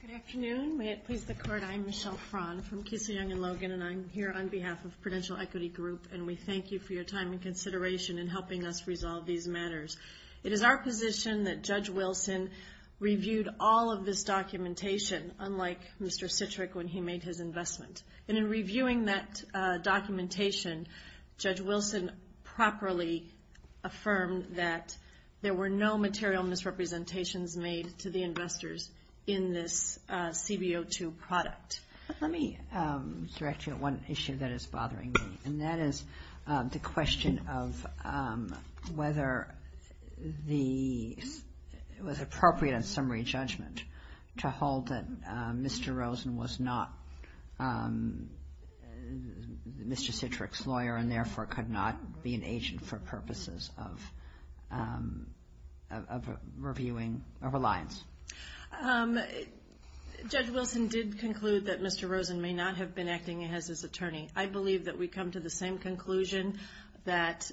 Good afternoon. May it please the Court, I'm Michelle Frahn from Keesey, Young & Logan, and I'm here on behalf of Prudential Equity Group, and we thank you for your time and consideration in helping us resolve these matters. It is our position that Judge Wilson reviewed all of this documentation, unlike Mr. Citrick when he made his investment. And in reviewing that documentation, Judge Wilson properly affirmed that there were no material misrepresentations made to the investors in this CBO2 product. Let me direct you to one issue that is bothering me, and that is the question of whether it was appropriate in summary judgment to hold that Mr. Rosen was not Mr. Citrick's lawyer and therefore could not be an agent for purposes of reviewing a reliance. Judge Wilson did conclude that Mr. Rosen may not have been acting as his attorney. I believe that we come to the same conclusion that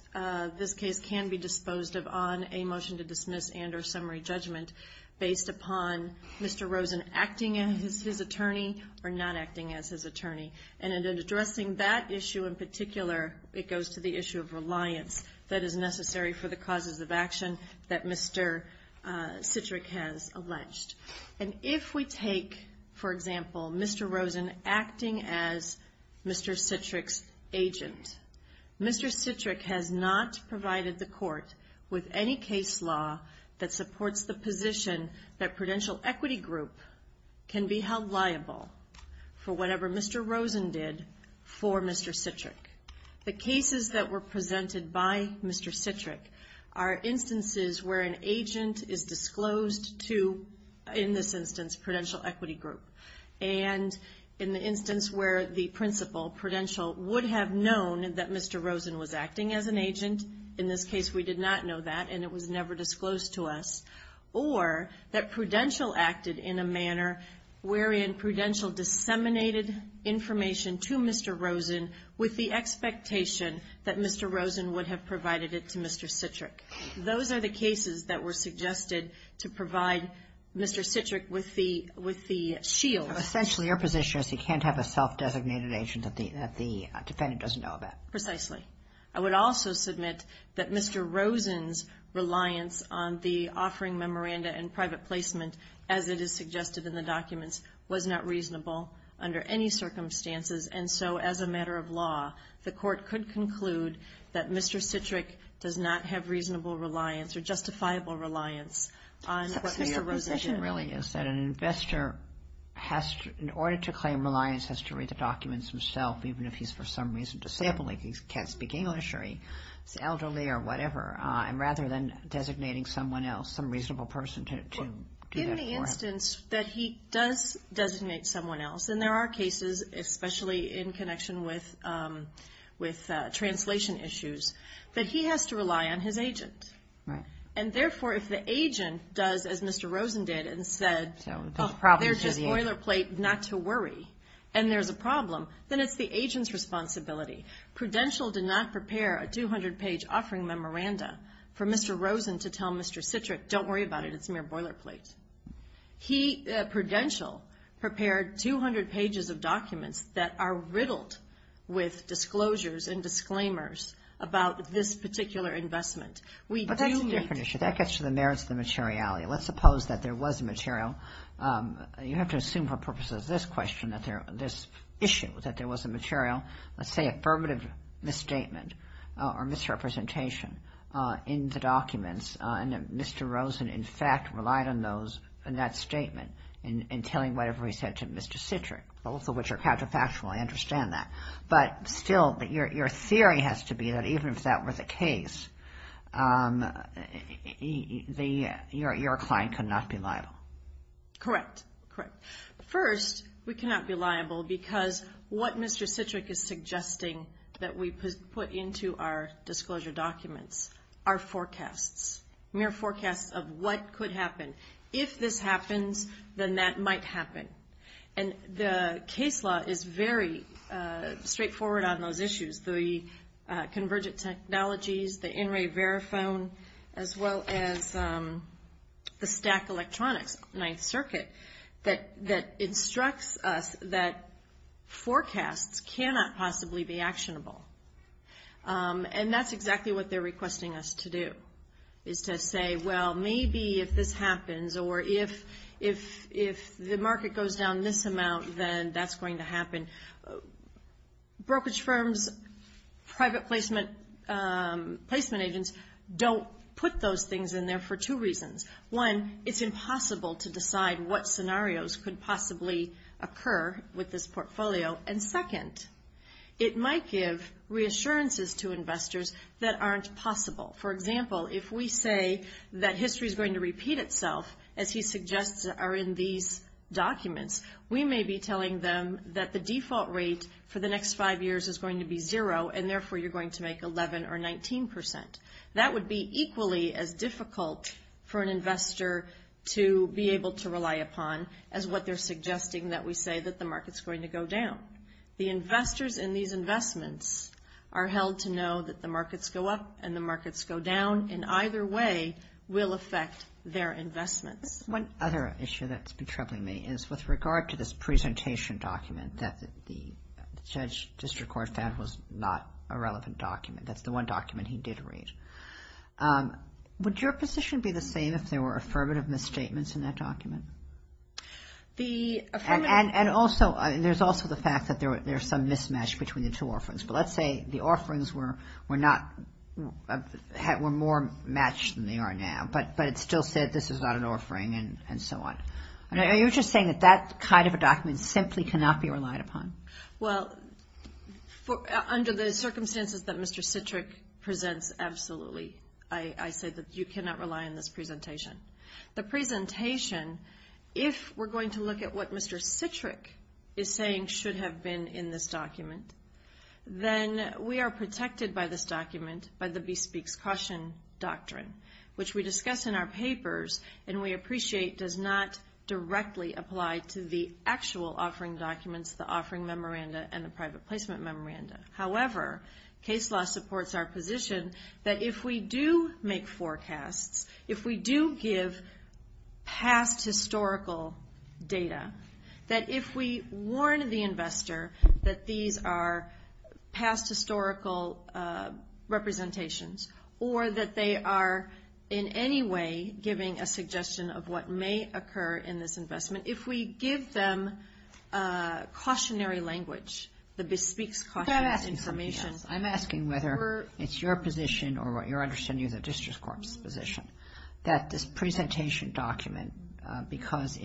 this case can be disposed of on a motion to dismiss and or summary judgment based upon Mr. Rosen acting as his attorney or not acting as his attorney. And in addressing that issue in particular, it goes to the issue of reliance that is necessary for the causes of action that Mr. Citrick has alleged. And if we take, for example, Mr. Rosen acting as Mr. Citrick's agent, Mr. Citrick has not provided the court with any case law that supports the position that Prudential Equity Group can be held liable for whatever Mr. Rosen did for Mr. Citrick. The cases that were presented by Mr. Citrick are instances where an agent is disclosed to, in this instance, Prudential Equity Group, and in the instance where the principal, Prudential, would have known that Mr. Rosen was acting as an agent. In this case, we did not know that, and it was never disclosed to us. Or that Prudential acted in a manner wherein Prudential disseminated information to Mr. Rosen with the expectation that Mr. Rosen would have provided it to Mr. Citrick. Those are the cases that were suggested to provide Mr. Citrick with the shield. Essentially, your position is he can't have a self-designated agent that the defendant doesn't know about. Precisely. I would also submit that Mr. Rosen's reliance on the offering memoranda and private placement, as it is suggested in the documents, was not reasonable under any circumstances. And so, as a matter of law, the court could conclude that Mr. Citrick does not have reasonable reliance or justifiable reliance on what Mr. Rosen said. The question really is that an investor, in order to claim reliance, has to read the documents himself, even if he's for some reason disabled, like he can't speak English or he's elderly or whatever, rather than designating someone else, some reasonable person to do that for him. In the instance that he does designate someone else, and there are cases, especially in connection with translation issues, that he has to rely on his agent. Right. And therefore, if the agent does, as Mr. Rosen did and said, there's a boilerplate not to worry, and there's a problem, then it's the agent's responsibility. Prudential did not prepare a 200-page offering memoranda for Mr. Rosen to tell Mr. Citrick, don't worry about it, it's mere boilerplate. Prudential prepared 200 pages of documents that are riddled with disclosures and disclaimers about this particular investment. But that's a different issue. That gets to the merits of the materiality. Let's suppose that there was material. You have to assume for purposes of this question, this issue, that there was a material, let's say, affirmative misstatement or misrepresentation in the documents, and that Mr. Rosen, in fact, relied on those in that statement in telling whatever he said to Mr. Citrick, both of which are counterfactual. I understand that. But still, your theory has to be that even if that were the case, your client could not be liable. Correct. Correct. First, we cannot be liable because what Mr. Citrick is suggesting that we put into our disclosure documents are forecasts, mere forecasts of what could happen. If this happens, then that might happen. And the case law is very straightforward on those issues, the convergent technologies, the in-ray verifone, as well as the stack electronics Ninth Circuit that instructs us that forecasts cannot possibly be actionable. And that's exactly what they're requesting us to do, is to say, well, maybe if this happens or if the market goes down this amount, then that's going to happen. Brokerage firms, private placement agents don't put those things in there for two reasons. One, it's impossible to decide what scenarios could possibly occur with this portfolio. And second, it might give reassurances to investors that aren't possible. For example, if we say that history is going to repeat itself, as he suggests are in these documents, we may be telling them that the default rate for the next five years is going to be zero, and therefore you're going to make 11% or 19%. That would be equally as difficult for an investor to be able to rely upon as what they're suggesting that we say that the market's going to go down. The investors in these investments are held to know that the markets go up and the markets go down in either way will affect their investments. One other issue that's been troubling me is with regard to this presentation document that the judge district court found was not a relevant document. That's the one document he did read. Would your position be the same if there were affirmative misstatements in that document? And also, there's also the fact that there's some mismatch between the two offerings. But let's say the offerings were more matched than they are now, but it still said this is not an offering and so on. Are you just saying that that kind of a document simply cannot be relied upon? Well, under the circumstances that Mr. Citrick presents, absolutely. I say that you cannot rely on this presentation. The presentation, if we're going to look at what Mr. Citrick is saying should have been in this document, then we are protected by this document, by the Bespeaks Caution Doctrine, which we discuss in our papers and we appreciate does not directly apply to the actual offering documents, the offering memoranda, and the private placement memoranda. However, case law supports our position that if we do make forecasts, if we do give past historical data, that if we warn the investor that these are past historical representations or that they are in any way giving a suggestion of what may occur in this investment, if we give them cautionary language, the Bespeaks Cautionary Information. I'm asking whether it's your position or what you're understanding is a district court's position, that this presentation document, because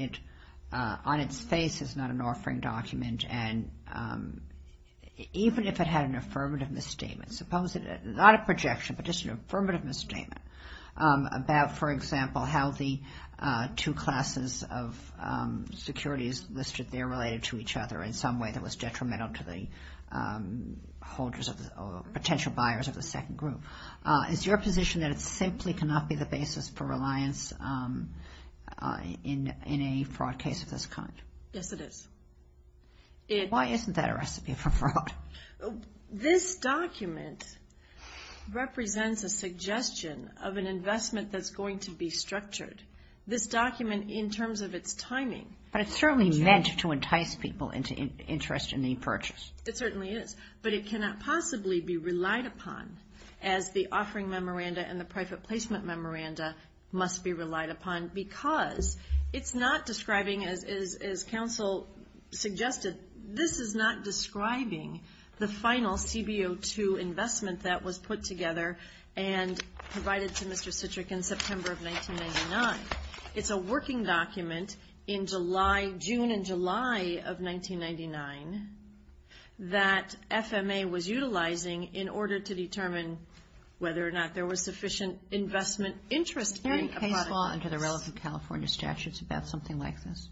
on its face it's not an offering document, and even if it had an affirmative misstatement, not a projection, but just an affirmative misstatement, about, for example, how the two classes of securities listed there related to each other in some way that was detrimental to the potential buyers of the second group. Is your position that it simply cannot be the basis for reliance in a fraud case of this kind? Yes, it is. Why isn't that a recipe for fraud? This document represents a suggestion of an investment that's going to be structured. This document, in terms of its timing, But it's certainly meant to entice people into interest in the purchase. It certainly is. But it cannot possibly be relied upon as the offering memoranda and the private placement memoranda must be relied upon because it's not describing, as counsel suggested, this is not describing the final CBO2 investment that was put together and provided to Mr. Citrick in September of 1999. It's a working document in June and July of 1999 that FMA was utilizing in order to determine whether or not there was sufficient investment interest in a product like this. Is there any law under the relative California statutes about something like this?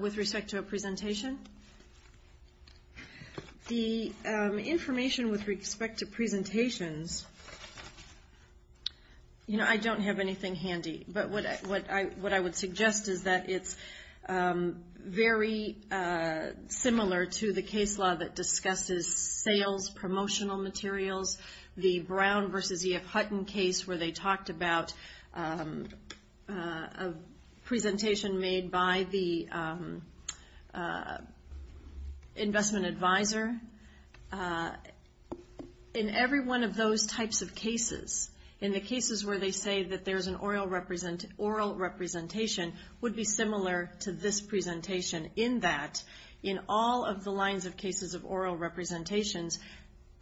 With respect to a presentation? The information with respect to presentations, you know, I don't have anything handy. But what I would suggest is that it's very similar to the case law that discusses sales promotional materials. The Brown v. E.F. Hutton case where they talked about a presentation made by the investment advisor. In every one of those types of cases, in the cases where they say that there's an oral representation, would be similar to this presentation in that in all of the lines of cases of oral representations,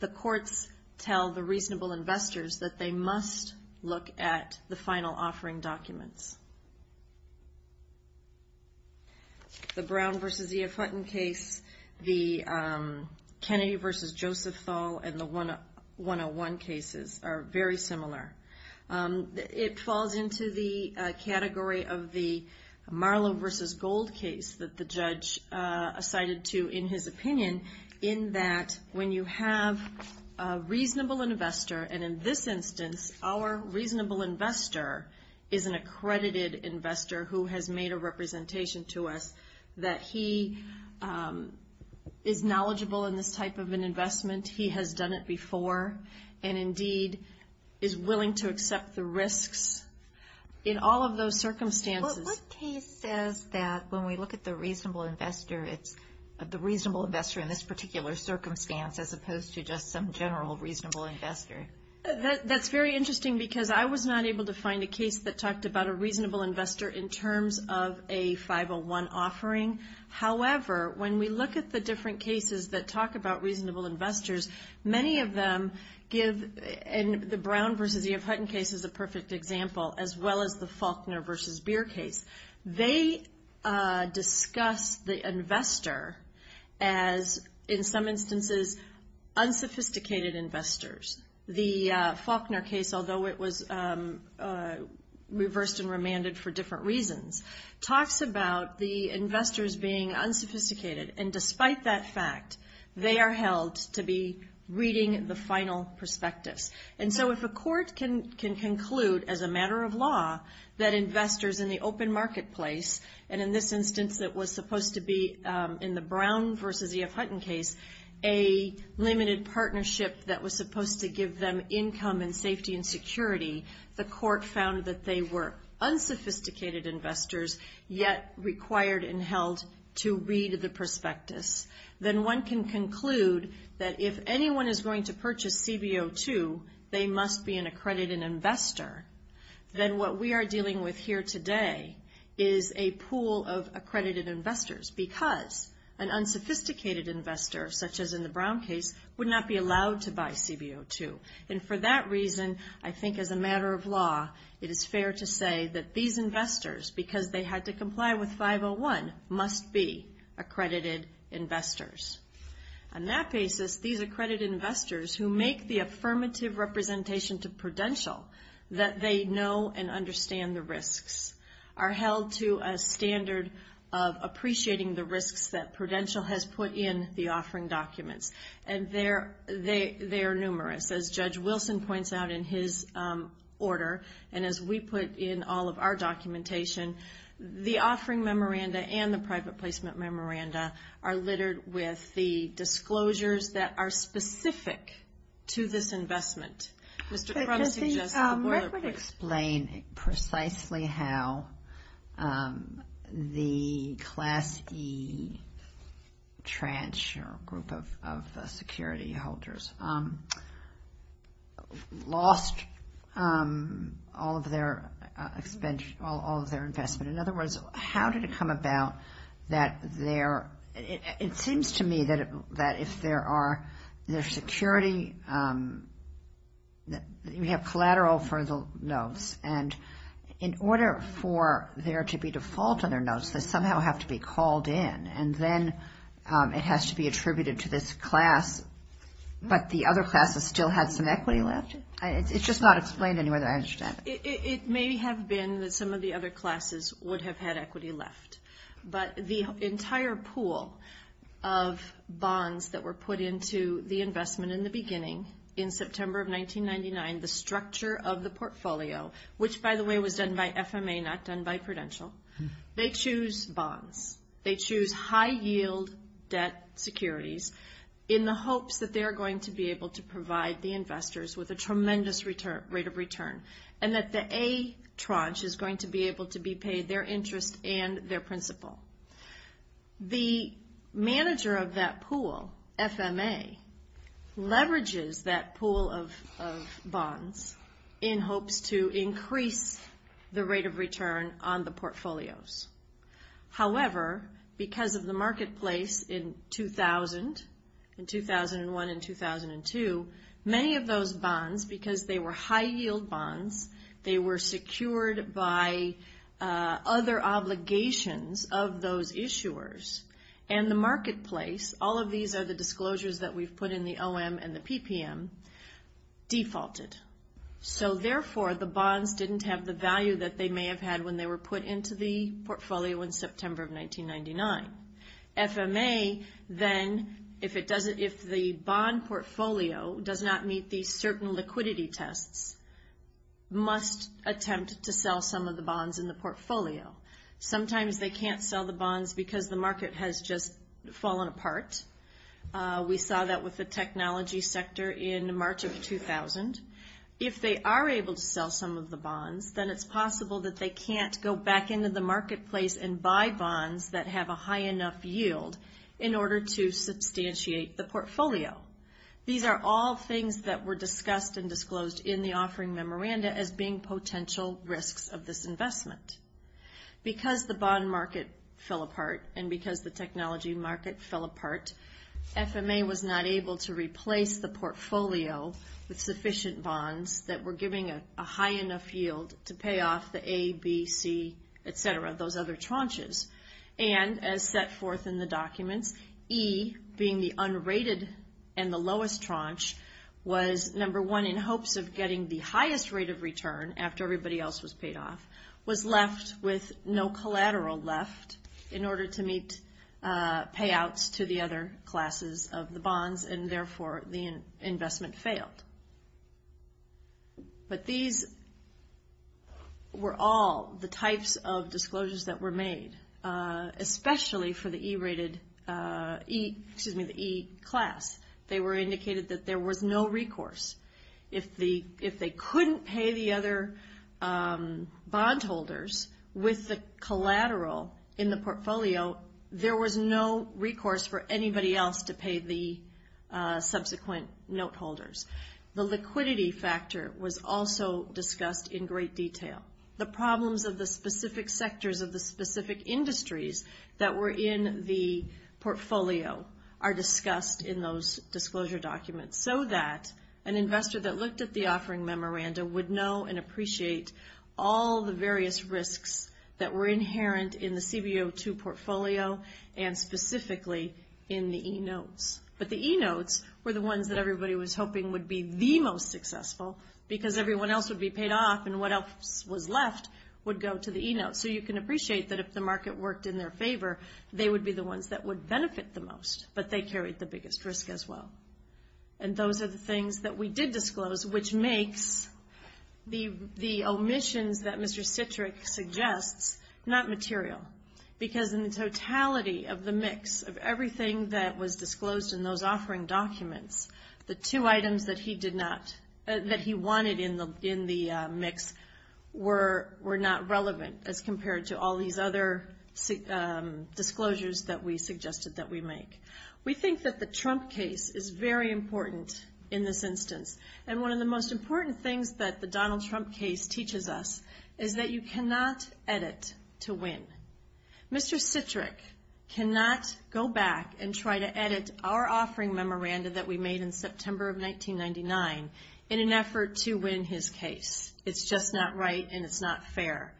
the courts tell the reasonable investors that they must look at the final offering documents. The Brown v. E.F. Hutton case, the Kennedy v. Joseph Thal, and the 101 cases are very similar. It falls into the category of the Marlowe v. Gold case that the judge cited to in his opinion in that when you have a reasonable investor, and in this instance, our reasonable investor is an accredited investor who has made a representation to us, that he is knowledgeable in this type of an investment, he has done it before, and indeed is willing to accept the risks in all of those circumstances. What case says that when we look at the reasonable investor, it's the reasonable investor in this particular circumstance as opposed to just some general reasonable investor? That's very interesting because I was not able to find a case that talked about a reasonable investor in terms of a 501 offering. However, when we look at the different cases that talk about reasonable investors, many of them give the Brown v. E.F. Hutton case as a perfect example as well as the Faulkner v. Beer case. They discuss the investor as, in some instances, unsophisticated investors. The Faulkner case, although it was reversed and remanded for different reasons, talks about the investors being unsophisticated, and despite that fact, they are held to be reading the final perspectives. And so if a court can conclude as a matter of law that investors in the open marketplace, and in this instance it was supposed to be in the Brown v. E.F. Hutton case, a limited partnership that was supposed to give them income and safety and security, the court found that they were unsophisticated investors yet required and held to read the prospectus, then one can conclude that if anyone is going to purchase CBO 2, they must be an accredited investor. Then what we are dealing with here today is a pool of accredited investors because an unsophisticated investor, such as in the Brown case, would not be allowed to buy CBO 2. And for that reason, I think as a matter of law, it is fair to say that these investors, because they had to comply with 501, must be accredited investors. On that basis, these accredited investors who make the affirmative representation to Prudential that they know and understand the risks are held to a standard of appreciating the risks that Prudential has put in the offering documents. And they are numerous. As Judge Wilson points out in his order, and as we put in all of our documentation, the offering memoranda and the private placement memoranda are littered with the disclosures that are specific to this investment. Mr. Crum suggests the boilerplate. Could you explain precisely how the Class E tranche or group of security holders lost all of their investment? In other words, how did it come about that their – it seems to me that if there are – we have collateral for the notes. And in order for there to be default on their notes, they somehow have to be called in. And then it has to be attributed to this class. But the other classes still had some equity left? It's just not explained in a way that I understand. It may have been that some of the other classes would have had equity left. But the entire pool of bonds that were put into the investment in the beginning, in September of 1999, the structure of the portfolio, which, by the way, was done by FMA, not done by Prudential, they choose bonds. They choose high-yield debt securities in the hopes that they are going to be able to provide the investors with a tremendous rate of return, and that the A tranche is going to be able to be paid their interest and their principal. The manager of that pool, FMA, leverages that pool of bonds in hopes to increase the rate of return on the portfolios. However, because of the marketplace in 2000, in 2001 and 2002, many of those bonds, because they were high-yield bonds, they were secured by other obligations of those issuers, and the marketplace, all of these are the disclosures that we've put in the OM and the PPM, defaulted. So therefore, the bonds didn't have the value that they may have had when they were put into the portfolio in September of 1999. FMA, then, if the bond portfolio does not meet these certain liquidity tests, must attempt to sell some of the bonds in the portfolio. Sometimes they can't sell the bonds because the market has just fallen apart. We saw that with the technology sector in March of 2000. If they are able to sell some of the bonds, then it's possible that they can't go back into the marketplace and buy bonds that have a high enough yield in order to substantiate the portfolio. These are all things that were discussed and disclosed in the offering memoranda as being potential risks of this investment. Because the bond market fell apart and because the technology market fell apart, FMA was not able to replace the portfolio with sufficient bonds that were giving a high enough yield to pay off the A, B, C, et cetera, those other tranches. And as set forth in the documents, E, being the unrated and the lowest tranche, was number one in hopes of getting the highest rate of return after everybody else was paid off, was left with no collateral left in order to meet payouts to the other classes of the bonds, and therefore the investment failed. But these were all the types of disclosures that were made, especially for the E class. They were indicated that there was no recourse. If they couldn't pay the other bondholders with the collateral in the portfolio, there was no recourse for anybody else to pay the subsequent noteholders. The liquidity factor was also discussed in great detail. The problems of the specific sectors of the specific industries that were in the portfolio are discussed in those disclosure documents, so that an investor that looked at the offering memoranda would know and appreciate all the various risks that were inherent in the CBO2 portfolio and specifically in the E notes. But the E notes were the ones that everybody was hoping would be the most successful because everyone else would be paid off and what else was left would go to the E notes. So you can appreciate that if the market worked in their favor, they would be the ones that would benefit the most, but they carried the biggest risk as well. And those are the things that we did disclose, which makes the omissions that Mr. Citrick suggests not material because in the totality of the mix of everything that was disclosed in those offering documents, the two items that he wanted in the mix were not relevant as compared to all these other disclosures that we suggested that we make. We think that the Trump case is very important in this instance, and one of the most important things that the Donald Trump case teaches us is that you cannot edit to win. Mr. Citrick cannot go back and try to edit our offering memoranda that we made in September of 1999 in an effort to win his case. It's just not right and it's not fair.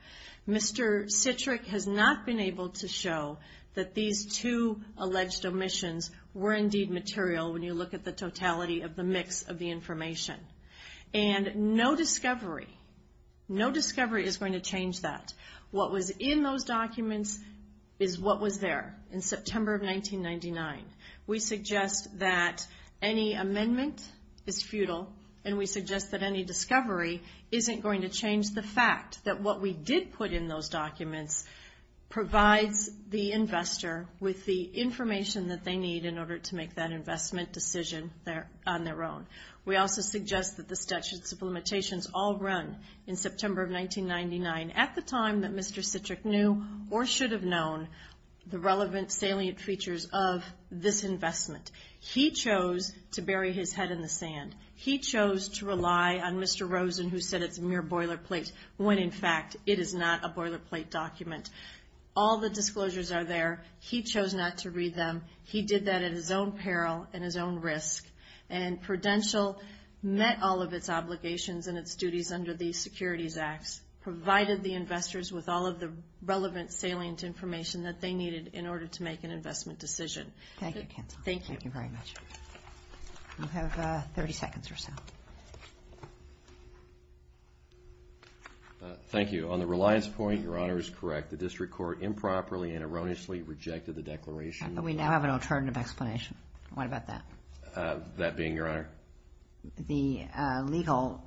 Mr. Citrick has not been able to show that these two alleged omissions were indeed material when you look at the totality of the mix of the information. And no discovery, no discovery is going to change that. What was in those documents is what was there in September of 1999. We suggest that any amendment is futile and we suggest that any discovery isn't going to change the fact that what we did put in those documents provides the investor with the information that they need in order to make that investment decision on their own. We also suggest that the statute of limitations all run in September of 1999 at the time that Mr. Citrick knew or should have known the relevant salient features of this investment. He chose to bury his head in the sand. He chose to rely on Mr. Rosen who said it's a mere boilerplate when, in fact, it is not a boilerplate document. All the disclosures are there. He chose not to read them. He did that at his own peril and his own risk. And Prudential met all of its obligations and its duties under the Securities Acts, provided the investors with all of the relevant salient information that they needed in order to make an investment decision. Thank you, Kenton. Thank you. Thank you very much. You have 30 seconds or so. Thank you. On the reliance point, Your Honor is correct. The district court improperly and erroneously rejected the declaration. We now have an alternative explanation. What about that? That being, Your Honor? The legal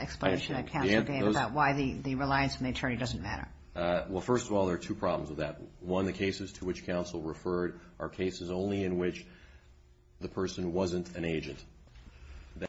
explanation that counsel gave about why the reliance on the attorney doesn't matter. Well, first of all, there are two problems with that. One, the cases to which counsel referred are cases only in which the person wasn't an agent.